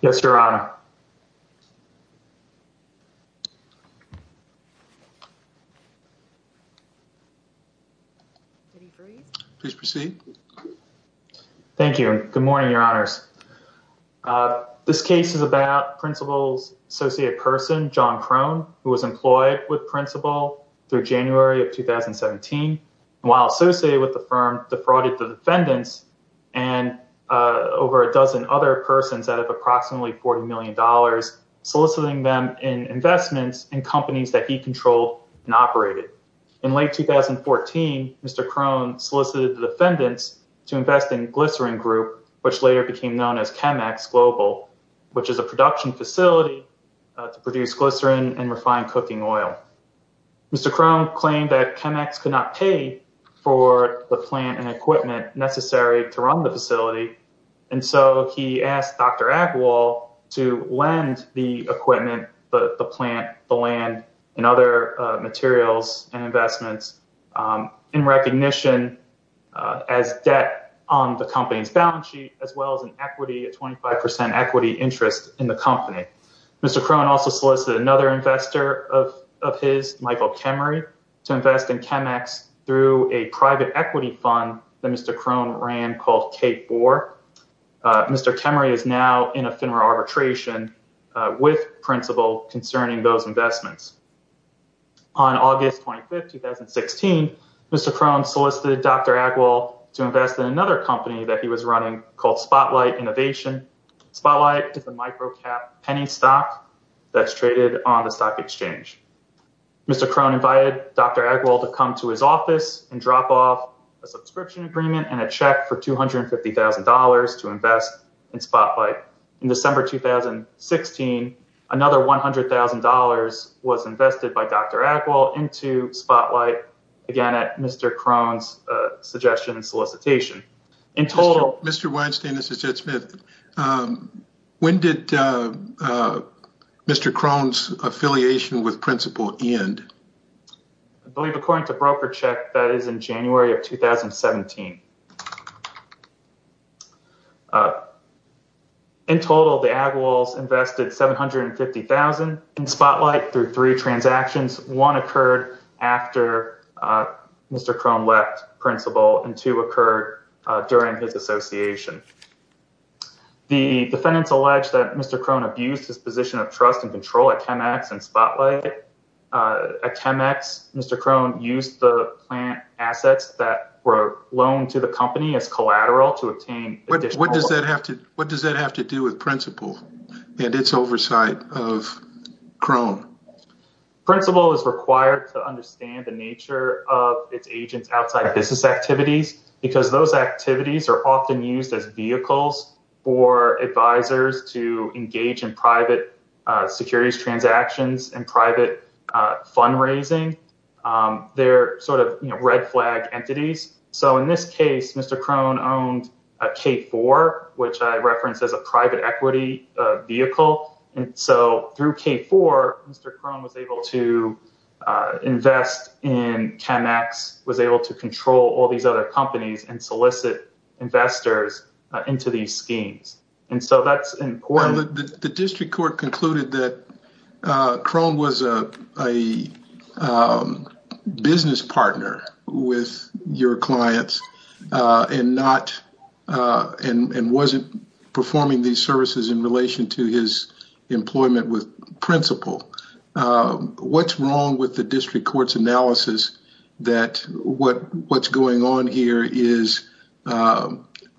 Yes, Your Honor. Please proceed. Thank you. Good morning, Your Honors. This case is about Principal's associate person, John Krohn, who was employed with Principal through January of 2017, while associated with the firm defrauded the defendants and over a dozen other persons out of approximately $40 million, soliciting them in investments in companies that he controlled and operated. In late 2014, Mr. Krohn solicited the defendants to invest in Glycerin Group, which later became known as Chemex Global, which is a production facility to produce glycerin and refined cooking oil. Mr. Krohn claimed that Chemex could not pay for the plant and equipment necessary to run the facility, and so he asked Dr. Agarwal to lend the equipment, the plant, the land, and other materials and investments in recognition as debt on the company's balance sheet, as well as an equity, a 25% equity interest in the company. Mr. Krohn also solicited another investor of his, Michael Kemery, to invest in Chemex through a private equity fund that Mr. Krohn ran called Cape Boar. Mr. Kemery is now in a FINRA arbitration with Principal concerning those investments. On August 25, 2016, Mr. Krohn solicited Dr. Agarwal to invest in another company that he was running called Spotlight Innovation. Spotlight is a micro-cap penny stock that's traded on the stock exchange. Mr. Krohn invited Dr. Agarwal to come to his office and drop off a subscription agreement and a check for $250,000 to invest in Spotlight. In December 2016, another $100,000 was invested by Dr. Agarwal into Spotlight, again at Mr. Krohn's suggestion and solicitation. Mr. Weinstein, this is Jed Smith. When did Mr. Krohn's affiliation with Principal end? I believe according to broker check, that is in January of 2017. In total, the Agarwals invested $750,000 in Spotlight through three transactions. One occurred after Mr. Krohn left Principal, and two occurred during his association. The defendants allege that Mr. Krohn abused his position of trust and control at Chemex and Spotlight. What does that have to do with Principal and its oversight of Krohn? Principal is required to understand the nature of its agents outside business activities because those activities are often used as vehicles for advisors to engage in private securities transactions and private fundraising. They're sort of red flag entities. In this case, Mr. Krohn owned a K4, which I referenced as a private equity vehicle. Through K4, Mr. Krohn was able to invest in Chemex, was able to control all these other companies and solicit investors into these schemes. The district court concluded that Krohn was a business partner with your clients and wasn't performing these services in relation to his employment with Principal. What's wrong with the district court's analysis that what's going on here is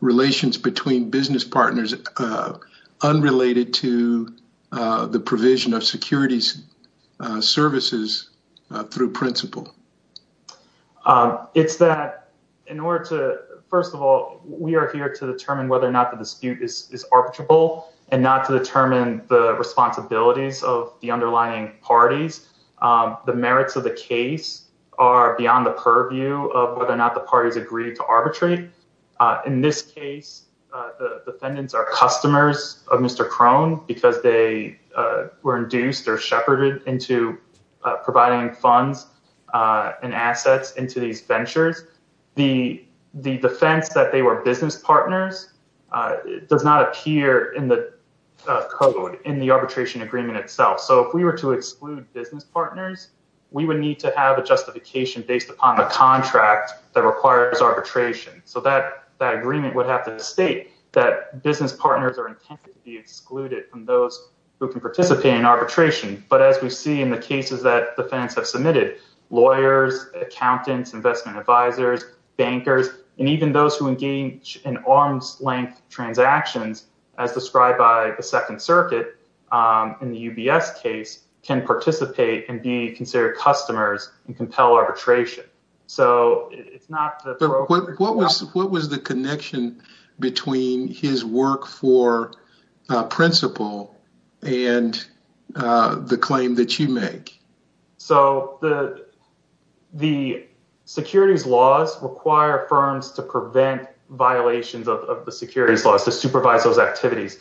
relations between business partners unrelated to the provision of securities services through Principal? It's that, first of all, we are here to determine whether or not the dispute is arbitrable and not to determine the responsibilities of the underlying parties. The merits of the case are beyond the purview of whether or not the parties agreed to arbitrate. In this case, the defendants are customers of Mr. Krohn because they were induced or shepherded into providing funds and assets into these ventures. The defense that they were business partners does not appear in the code in the arbitration agreement itself. If we were to exclude business partners, we would need to have a justification based upon the contract that requires arbitration. That agreement would have to state that business partners are intended to be excluded from those who can participate in arbitration. But as we see in the cases that defendants have submitted, lawyers, accountants, investment advisors, bankers, and even those who engage in arm's length transactions as described by the Second Circuit in the UBS case can participate and be considered customers and compel arbitration. What was the connection between his work for principal and the claim that you make? The securities laws require firms to prevent violations of the securities laws to supervise those activities.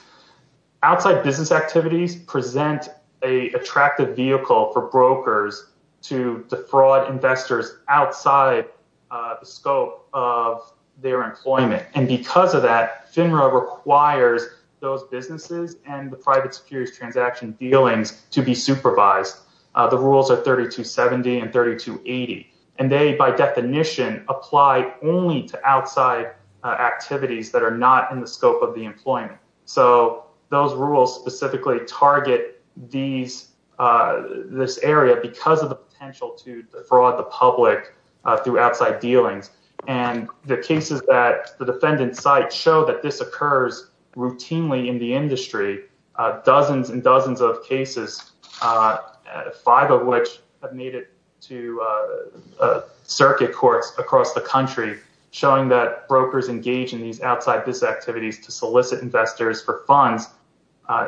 Outside business activities present an attractive vehicle for brokers to defraud investors outside the scope of their employment. Because of that, FINRA requires those businesses and the private securities transaction dealings to be supervised. The rules are 3270 and 3280. They, by definition, apply only to outside activities that are not in the scope of the employment. Those rules specifically target this area because of the potential to defraud the public through outside dealings. The cases that the defendants cite show that this occurs routinely in the industry. Dozens and dozens of cases, five of which have made it to circuit courts across the country, showing that brokers engage in these outside business activities to solicit investors for funds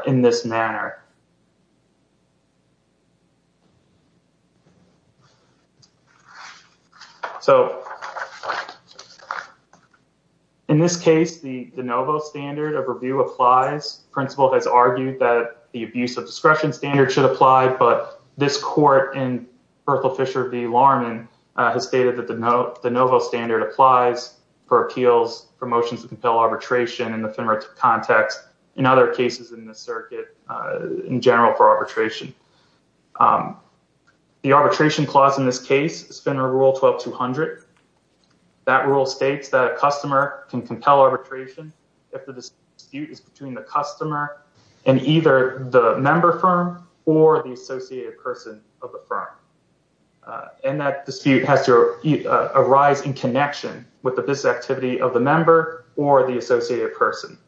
in this manner. So, in this case, the de novo standard of review applies. Principal has argued that the abuse of discretion standard should apply. But this court in Berkel Fisher v. Larman has stated that the de novo standard applies for appeals, for motions to compel arbitration in the FINRA context. In other cases in the circuit, in general, for arbitration. The arbitration clause in this case is FINRA Rule 12-200. That rule states that a customer can compel arbitration if the dispute is between the customer and either the member firm or the associated person of the firm. And that dispute has to arise in connection with the business activity of the member or the associated person.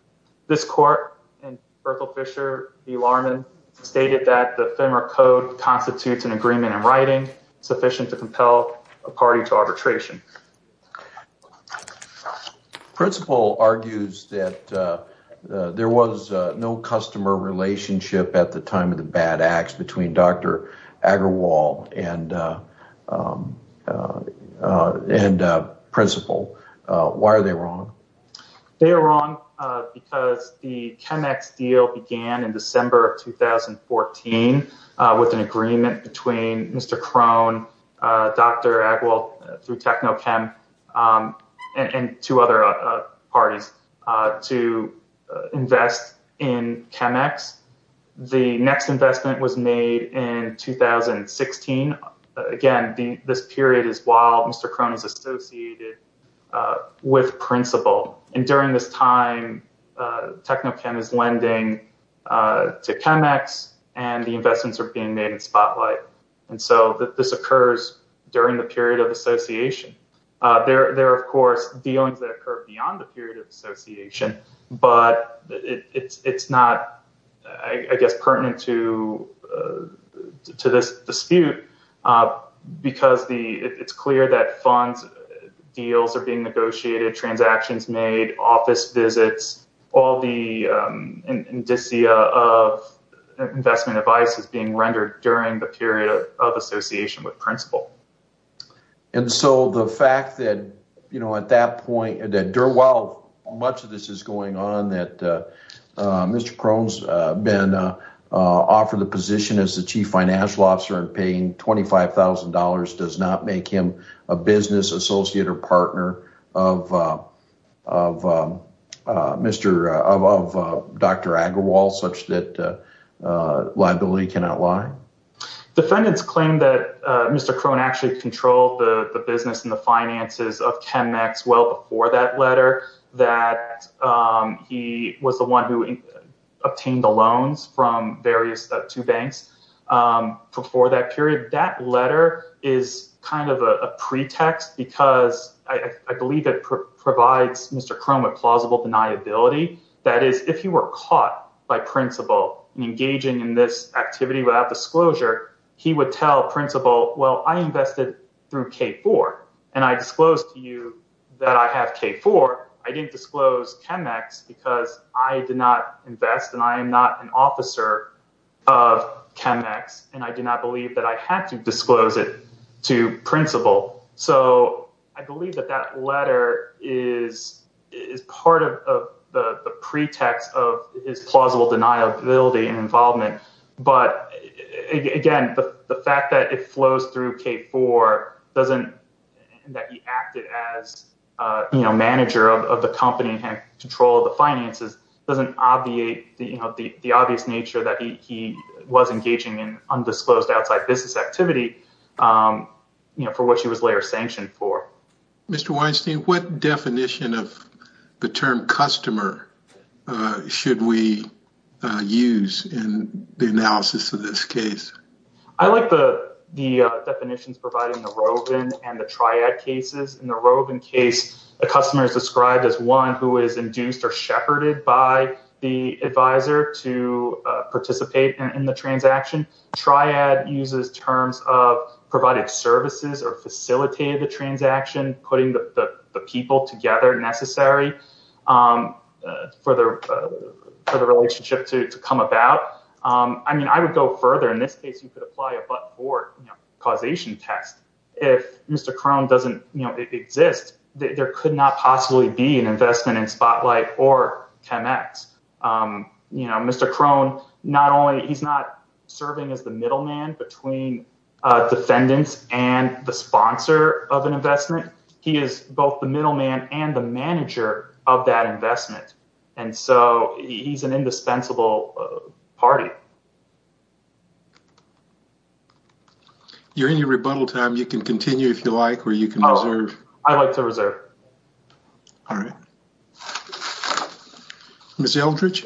This court in Berkel Fisher v. Larman stated that the FINRA code constitutes an agreement in writing sufficient to compel a party to arbitration. Principal argues that there was no customer relationship at the time of the bad acts between Dr. Agarwal and Principal. Why are they wrong? They are wrong because the ChemEx deal began in December of 2014 with an agreement between Mr. Krohn, Dr. Agarwal through TechnoChem and two other parties to invest in ChemEx. The next investment was made in 2016. Again, this period is while Mr. Krohn is associated with Principal. And during this time, TechnoChem is lending to ChemEx and the investments are being made in Spotlight. And so this occurs during the period of association. There are, of course, dealings that occur beyond the period of association, but it's not pertinent to this dispute because it's clear that funds, deals are being negotiated, transactions made, office visits. All the indicia of investment advice is being rendered during the period of association with Principal. And so the fact that, you know, at that point, much of this is going on, that Mr. Krohn's been offered the position as the chief financial officer and paying $25,000 does not make him a business associate or partner of Dr. Agarwal such that liability cannot lie? Defendants claim that Mr. Krohn actually controlled the business and the finances of ChemEx well before that letter, that he was the one who obtained the loans from various two banks before that period. That letter is kind of a pretext because I believe it provides Mr. Krohn with plausible deniability. That is, if you were caught by Principal engaging in this activity without disclosure, he would tell Principal, well, I invested through K4 and I disclosed to you that I have K4. I didn't disclose ChemEx because I did not invest and I am not an officer of ChemEx and I did not believe that I had to disclose it to Principal. So I believe that that letter is part of the pretext of his plausible deniability and involvement. But again, the fact that it flows through K4 doesn't mean that he acted as manager of the company and had control of the finances. It doesn't obviate the obvious nature that he was engaging in undisclosed outside business activity for which he was later sanctioned for. Mr. Weinstein, what definition of the term customer should we use in the analysis of this case? I like the definitions provided in the Rovin and the Triad cases. In the Rovin case, a customer is described as one who is induced or shepherded by the advisor to participate in the transaction. Triad uses terms of provided services or facilitated the transaction, putting the people together necessary for the relationship to come about. I mean, I would go further. In this case, you could apply a but-for causation test. If Mr. Crone doesn't exist, there could not possibly be an investment in Spotlight or ChemEx. Mr. Crone, he's not serving as the middleman between defendants and the sponsor of an investment. He is both the middleman and the manager of that investment. And so he's an indispensable party. You're in your rebuttal time. You can continue if you like, or you can reserve. I'd like to reserve. All right. Ms. Eldridge.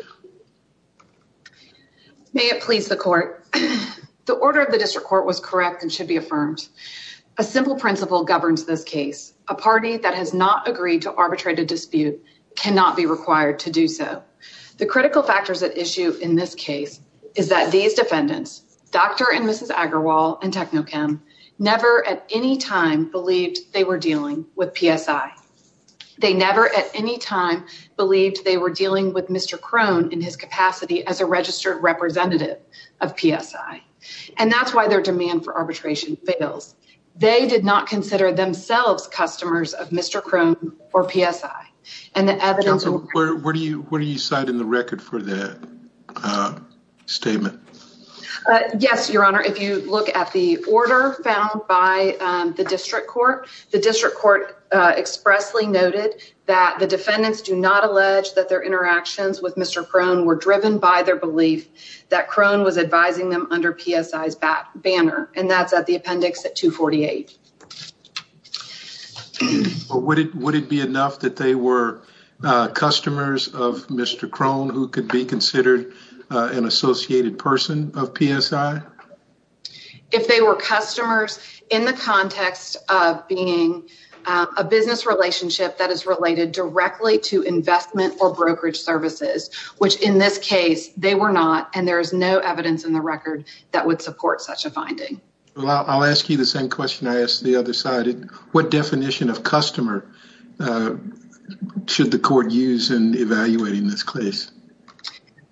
May it please the court. The order of the district court was correct and should be affirmed. A simple principle governs this case. A party that has not agreed to arbitrate a dispute cannot be required to do so. The critical factors at issue in this case is that these defendants, Dr. and Mrs. Agarwal and Technochem, never at any time believed they were dealing with PSI. They never at any time believed they were dealing with Mr. Crone in his capacity as a registered representative of PSI. And that's why their demand for arbitration fails. They did not consider themselves customers of Mr. Crone or PSI. Where do you cite in the record for that statement? Yes, Your Honor, if you look at the order found by the district court, the district court expressly noted that the defendants do not allege that their interactions with Mr. Crone were driven by their belief that Crone was advising them under PSI's banner. And that's at the appendix at 248. Would it would it be enough that they were customers of Mr. Crone who could be considered an associated person of PSI? If they were customers in the context of being a business relationship that is related directly to investment or brokerage services, which in this case they were not, and there is no evidence in the record that would support such a finding. Well, I'll ask you the same question I asked the other side. What definition of customer should the court use in evaluating this case?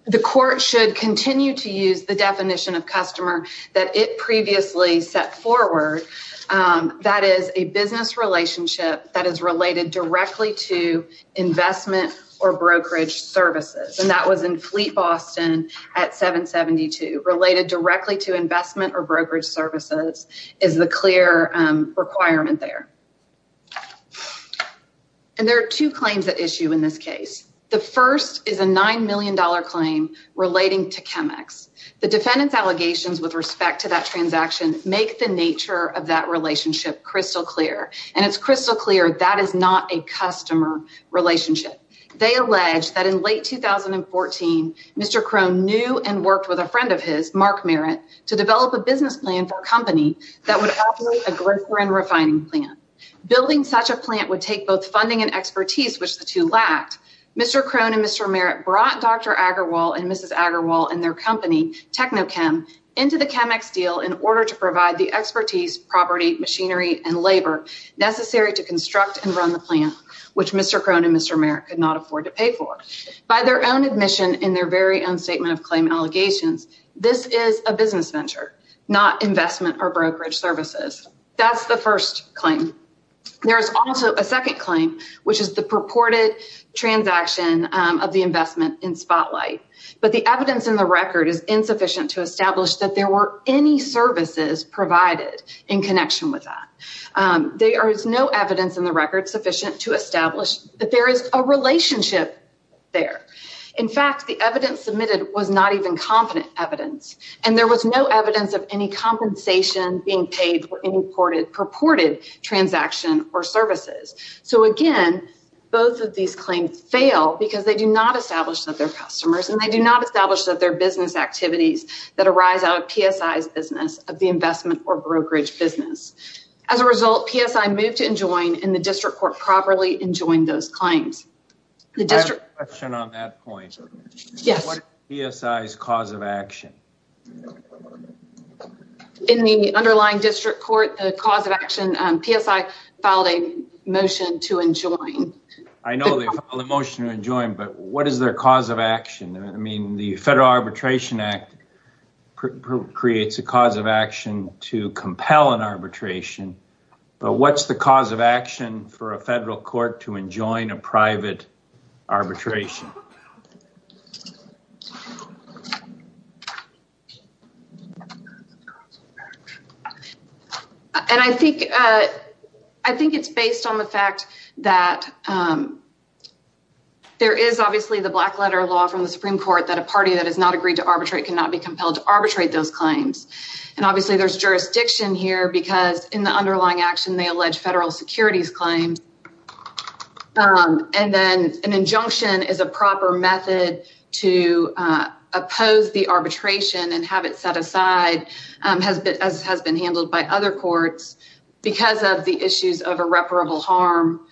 The court should continue to use the definition of customer that it previously set forward. That is a business relationship that is related directly to investment or brokerage services. And that was in Fleet Boston at 772 related directly to investment or brokerage services is the clear requirement there. And there are two claims at issue in this case. The first is a nine million dollar claim relating to Chemex. The defendant's allegations with respect to that transaction make the nature of that relationship crystal clear. And it's crystal clear that is not a customer relationship. They allege that in late 2014, Mr. Crone knew and worked with a friend of his, Mark Merritt, to develop a business plan for a company that would operate a grocery and refining plant. Building such a plant would take both funding and expertise, which the two lacked. Mr. Crone and Mr. Merritt brought Dr. Agarwal and Mrs. Agarwal and their company Technochem into the Chemex deal in order to provide the expertise, property, machinery and labor necessary to construct and run the plant, which Mr. Crone and Mr. Merritt could not afford to pay for by their own admission in their very own statement of claim allegations. This is a business venture, not investment or brokerage services. That's the first claim. There is also a second claim, which is the purported transaction of the investment in Spotlight. But the evidence in the record is insufficient to establish that there were any services provided in connection with that. There is no evidence in the record sufficient to establish that there is a relationship there. In fact, the evidence submitted was not even competent evidence, and there was no evidence of any compensation being paid for any purported transaction or services. So, again, both of these claims fail because they do not establish that they're customers and they do not establish that they're business activities that arise out of PSI's business of the investment or brokerage business. As a result, PSI moved to enjoin and the district court properly enjoined those claims. I have a question on that point. What is PSI's cause of action? In the underlying district court, the cause of action, PSI filed a motion to enjoin. I know they filed a motion to enjoin, but what is their cause of action? I mean, the Federal Arbitration Act creates a cause of action to compel an arbitration. But what's the cause of action for a federal court to enjoin a private arbitration? And I think it's based on the fact that there is obviously the black letter law from the Supreme Court that a party that has not agreed to arbitrate cannot be compelled to arbitrate those claims. And obviously, there's jurisdiction here because in the underlying action, they allege federal securities claims. And then an injunction is a proper method to oppose the arbitration and have it set aside, as has been handled by other courts because of the issues of irreparable harm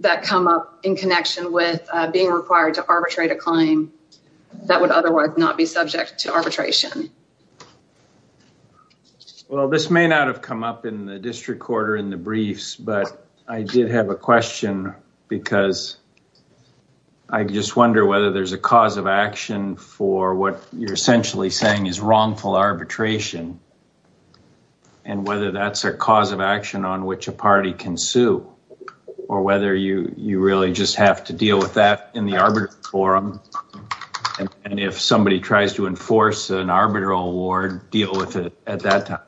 that come up in connection with being required to arbitrate a claim that would otherwise not be subject to arbitration. Well, this may not have come up in the district court or in the briefs, but I did have a question because I just wonder whether there's a cause of action for what you're essentially saying is wrongful arbitration and whether that's a cause of action on which a party can sue or whether you really just have to deal with that in the arbitration forum. And if somebody tries to enforce an arbitral award, deal with it at that time.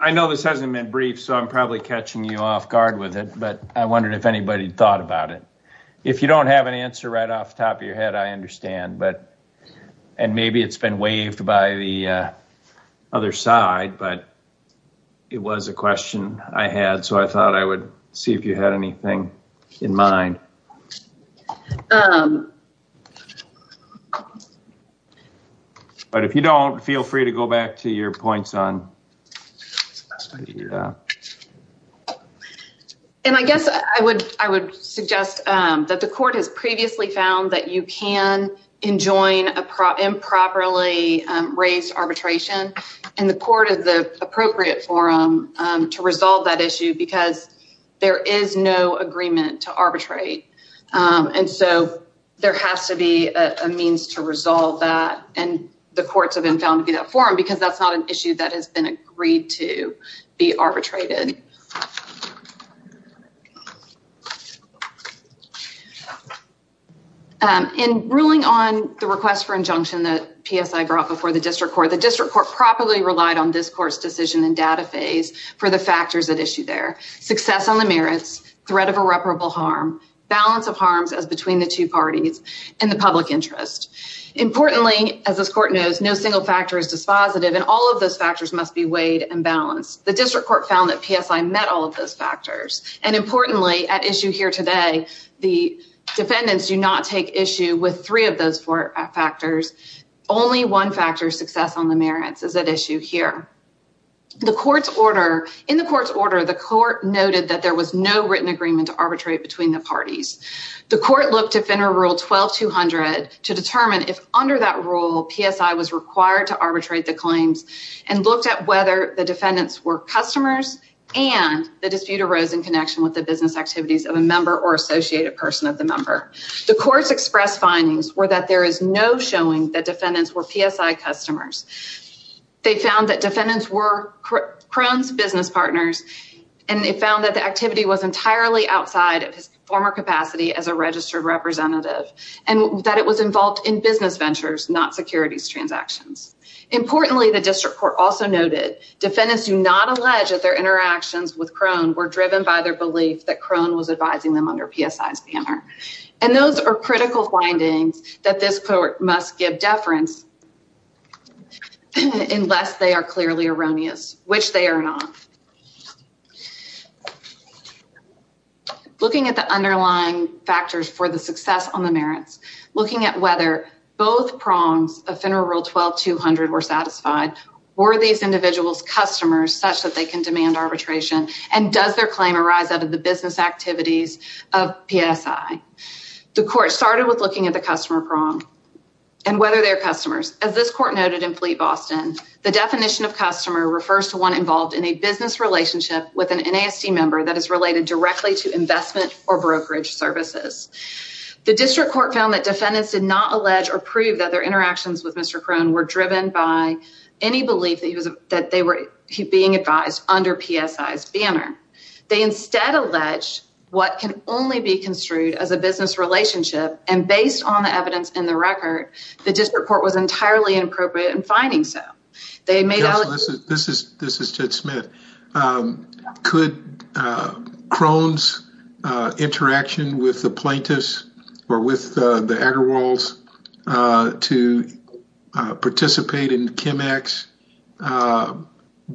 I know this hasn't been brief, so I'm probably catching you off guard with it, but I wondered if anybody thought about it. If you don't have an answer right off the top of your head, I understand. And maybe it's been waived by the other side, but it was a question I had, so I thought I would see if you had anything in mind. But if you don't, feel free to go back to your points on... And I guess I would suggest that the court has previously found that you can enjoin improperly raised arbitration and the court is the appropriate forum to resolve that issue because there is no agreement to arbitrate. And so there has to be a means to resolve that, and the courts have been found to be that forum because that's not an issue that has been agreed to be arbitrated. In ruling on the request for injunction that PSI brought before the district court, the district court properly relied on this court's decision and data phase for the factors at issue there. Success on the merits, threat of irreparable harm, balance of harms as between the two parties, and the public interest. Importantly, as this court knows, no single factor is dispositive and all of those factors must be weighed and balanced. The district court found that PSI met all of those factors. And importantly, at issue here today, the defendants do not take issue with three of those four factors. Only one factor, success on the merits, is at issue here. In the court's order, the court noted that there was no written agreement to arbitrate between the parties. The court looked at Federal Rule 12-200 to determine if under that rule, PSI was required to arbitrate the claims and looked at whether the defendants were customers and the dispute arose in connection with the business activities of a member or associated person of the member. The court's express findings were that there is no showing that defendants were PSI customers. They found that defendants were Crohn's business partners and they found that the activity was entirely outside of his former capacity as a registered representative and that it was involved in business ventures, not securities transactions. Importantly, the district court also noted defendants do not allege that their interactions with Crohn were driven by their belief that Crohn was advising them under PSI's banner. And those are critical findings that this court must give deference unless they are clearly erroneous, which they are not. Looking at the underlying factors for the success on the merits, looking at whether both prongs of Federal Rule 12-200 were satisfied, were these individuals customers such that they can demand arbitration and does their claim arise out of the business activities of PSI? The court started with looking at the customer prong and whether they are customers. As this court noted in Fleet Boston, the definition of customer refers to one involved in a business relationship with an NASD member that is related directly to investment or brokerage services. The district court found that defendants did not allege or prove that their interactions with Mr. Crohn were driven by any belief that they were being advised under PSI's banner. They instead allege what can only be construed as a business relationship and based on the evidence in the record, the district court was entirely inappropriate in finding so. This is Jed Smith. Could Crohn's interaction with the plaintiffs or with the Agarwals to participate in ChemEx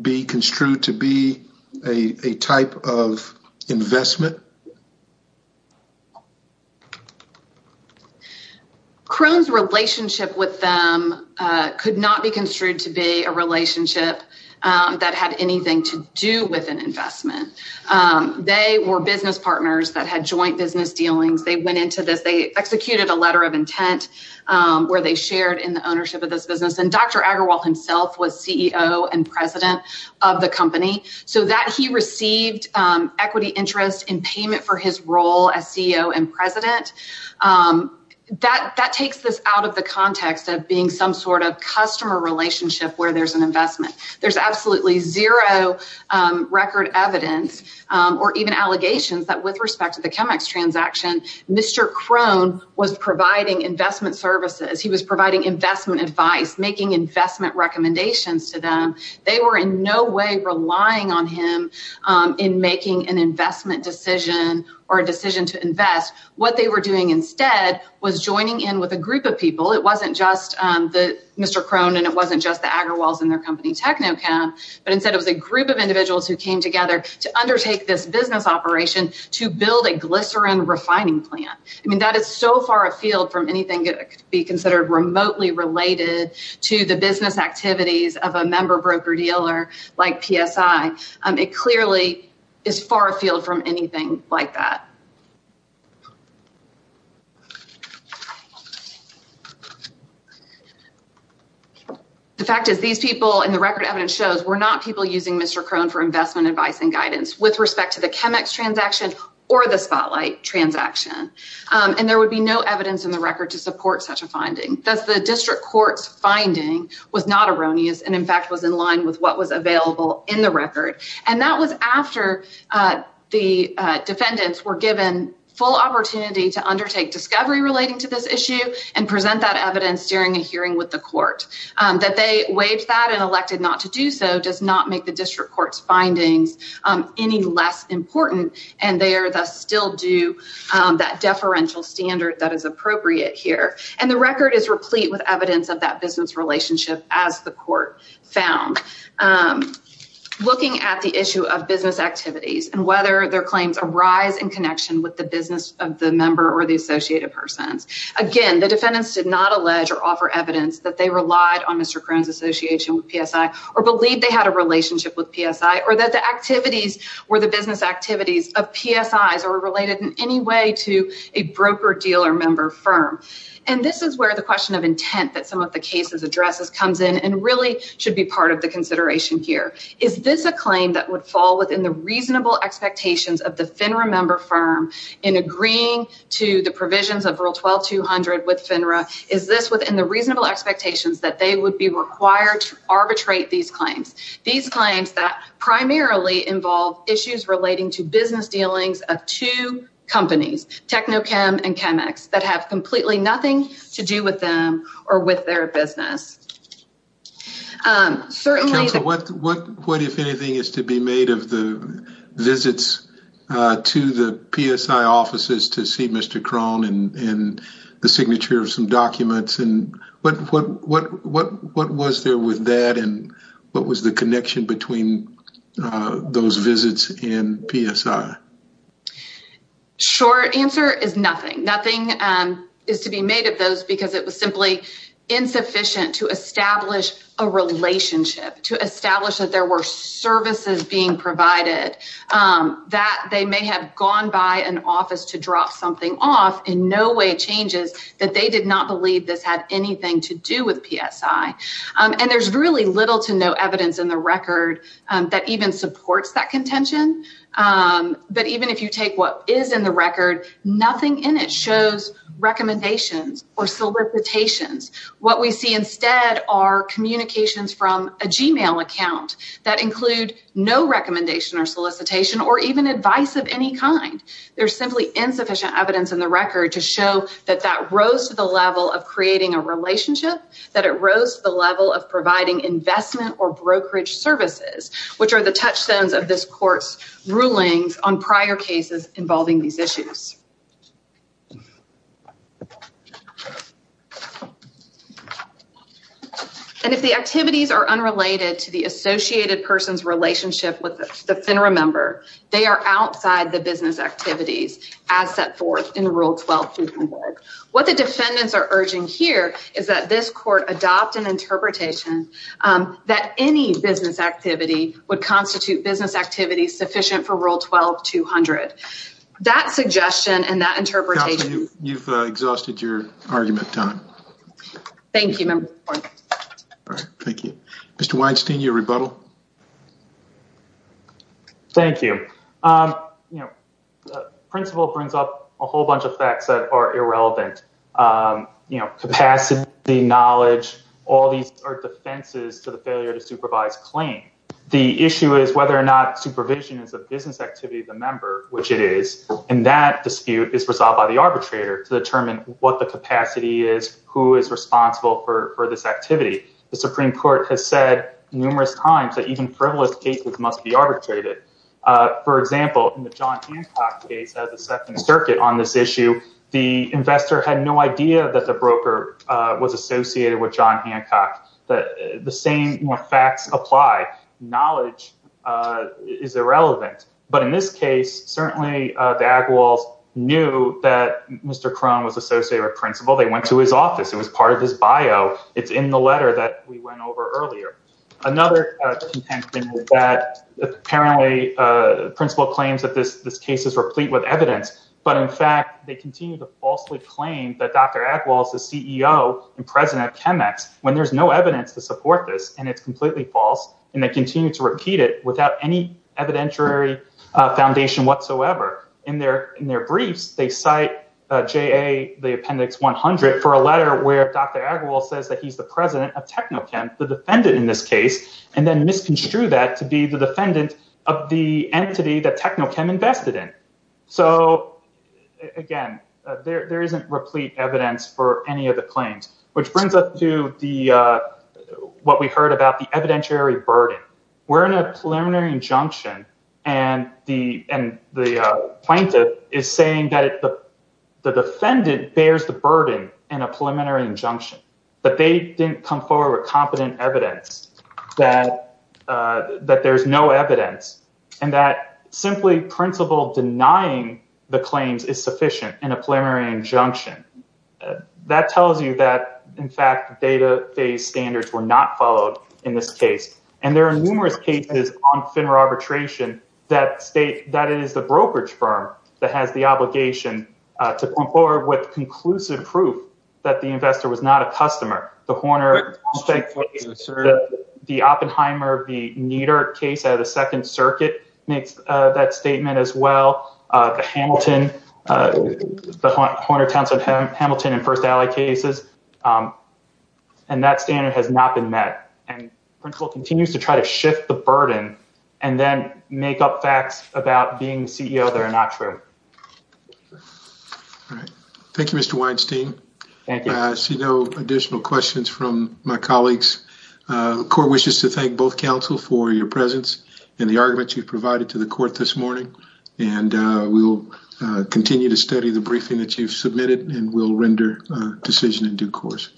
be construed to be a type of investment? Crohn's relationship with them could not be construed to be a relationship that had anything to do with an investment. They were business partners that had joint business dealings. They went into this. They executed a letter of intent where they shared in the ownership of this business and Dr. Agarwal himself was CEO and president of the company so that he received equity interest in payment for his role as CEO and president. That takes this out of the context of being some sort of customer relationship where there's an investment. There's absolutely zero record evidence or even allegations that with respect to the ChemEx transaction, Mr. Crohn was providing investment services. He was providing investment advice, making investment recommendations to them. They were in no way relying on him in making an investment decision or a decision to invest. What they were doing instead was joining in with a group of people. It wasn't just Mr. Crohn and it wasn't just the Agarwals and their company Technocam, but instead it was a group of individuals who came together to undertake this business operation to build a glycerin refining plant. I mean, that is so far afield from anything that could be considered remotely related to the business activities of a member broker dealer like PSI. It clearly is far afield from anything like that. The fact is these people and the record evidence shows were not people using Mr. Crohn for investment advice and guidance with respect to the ChemEx transaction or the Spotlight transaction. And there would be no evidence in the record to support such a finding. Thus, the district court's finding was not erroneous and, in fact, was in line with what was available in the record. And that was after the defendants were given full opportunity to undertake discovery relating to this issue and present that evidence during a hearing with the court. That they waived that and elected not to do so does not make the district court's findings any less important. And they are thus still due that deferential standard that is appropriate here. And the record is replete with evidence of that business relationship as the court found. Looking at the issue of business activities and whether their claims arise in connection with the business of the member or the associated persons. Again, the defendants did not allege or offer evidence that they relied on Mr. Crohn's association with PSI or believe they had a relationship with PSI or that the activities were the business activities of PSIs or related in any way to a broker dealer member firm. And this is where the question of intent that some of the cases addresses comes in and really should be part of the consideration here. Is this a claim that would fall within the reasonable expectations of the FINRA member firm in agreeing to the provisions of Rule 12-200 with FINRA? Is this within the reasonable expectations that they would be required to arbitrate these claims? These claims that primarily involve issues relating to business dealings of two companies, Technochem and Chemex, that have completely nothing to do with them or with their business. Counsel, what, if anything, is to be made of the visits to the PSI offices to see Mr. Crohn and the signature of some documents? And what was there with that and what was the connection between those visits and PSI? Short answer is nothing. Nothing is to be made of those because it was simply insufficient to establish a relationship, to establish that there were services being provided, that they may have gone by an office to drop something off, in no way changes that they did not believe this had anything to do with PSI. And there's really little to no evidence in the record that even supports that contention. But even if you take what is in the record, nothing in it shows recommendations or solicitations. What we see instead are communications from a Gmail account that include no recommendation or solicitation or even advice of any kind. There's simply insufficient evidence in the record to show that that rose to the level of creating a relationship, that it rose to the level of providing investment or brokerage services, which are the touchstones of this court's rulings on prior cases involving these issues. And if the activities are unrelated to the associated person's relationship with the FINRA member, they are outside the business activities as set forth in Rule 12. What the defendants are urging here is that this court adopt an interpretation that any business activity would constitute business activity sufficient for Rule 12-200. That suggestion and that interpretation. You've exhausted your argument time. Thank you. Mr. Weinstein, your rebuttal. Thank you. The principle brings up a whole bunch of facts that are irrelevant. Capacity, knowledge, all these are defenses to the failure to supervise claim. The issue is whether or not supervision is a business activity of the member, which it is. And that dispute is resolved by the arbitrator to determine what the capacity is, who is responsible for this activity. The Supreme Court has said numerous times that even frivolous cases must be arbitrated. For example, in the John Hancock case of the Second Circuit on this issue, the investor had no idea that the broker was associated with John Hancock. The same facts apply. Knowledge is irrelevant. But in this case, certainly the Agawals knew that Mr. Crone was associated with principal. They went to his office. It was part of his bio. It's in the letter that we went over earlier. Another that apparently principal claims that this this case is replete with evidence. But in fact, they continue to falsely claim that Dr. Agawals, the CEO and president of Chemex, when there's no evidence to support this and it's completely false. And they continue to repeat it without any evidentiary foundation whatsoever. In their in their briefs, they cite J.A. the appendix 100 for a letter where Dr. Agawals says that he's the president of Techno Chem, the defendant in this case, and then misconstrued that to be the defendant of the entity that Techno Chem invested in. So, again, there isn't replete evidence for any of the claims, which brings us to the what we heard about the evidentiary burden. We're in a preliminary injunction. And the and the plaintiff is saying that the defendant bears the burden in a preliminary injunction. But they didn't come forward with competent evidence that that there's no evidence. And that simply principal denying the claims is sufficient in a preliminary injunction. That tells you that, in fact, data based standards were not followed in this case. And there are numerous cases on FINRA arbitration that state that it is the brokerage firm that has the obligation to come forward with conclusive proof that the investor was not a customer. The Horner, the Oppenheimer, the Nieder case out of the Second Circuit makes that statement as well. The Hamilton, the Horner-Townsend-Hamilton and First Alley cases. And that standard has not been met. And principal continues to try to shift the burden and then make up facts about being CEO that are not true. Thank you, Mr. Weinstein. I see no additional questions from my colleagues. The court wishes to thank both counsel for your presence and the arguments you've provided to the court this morning. And we will continue to study the briefing that you've submitted and will render a decision in due course.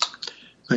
Thank you.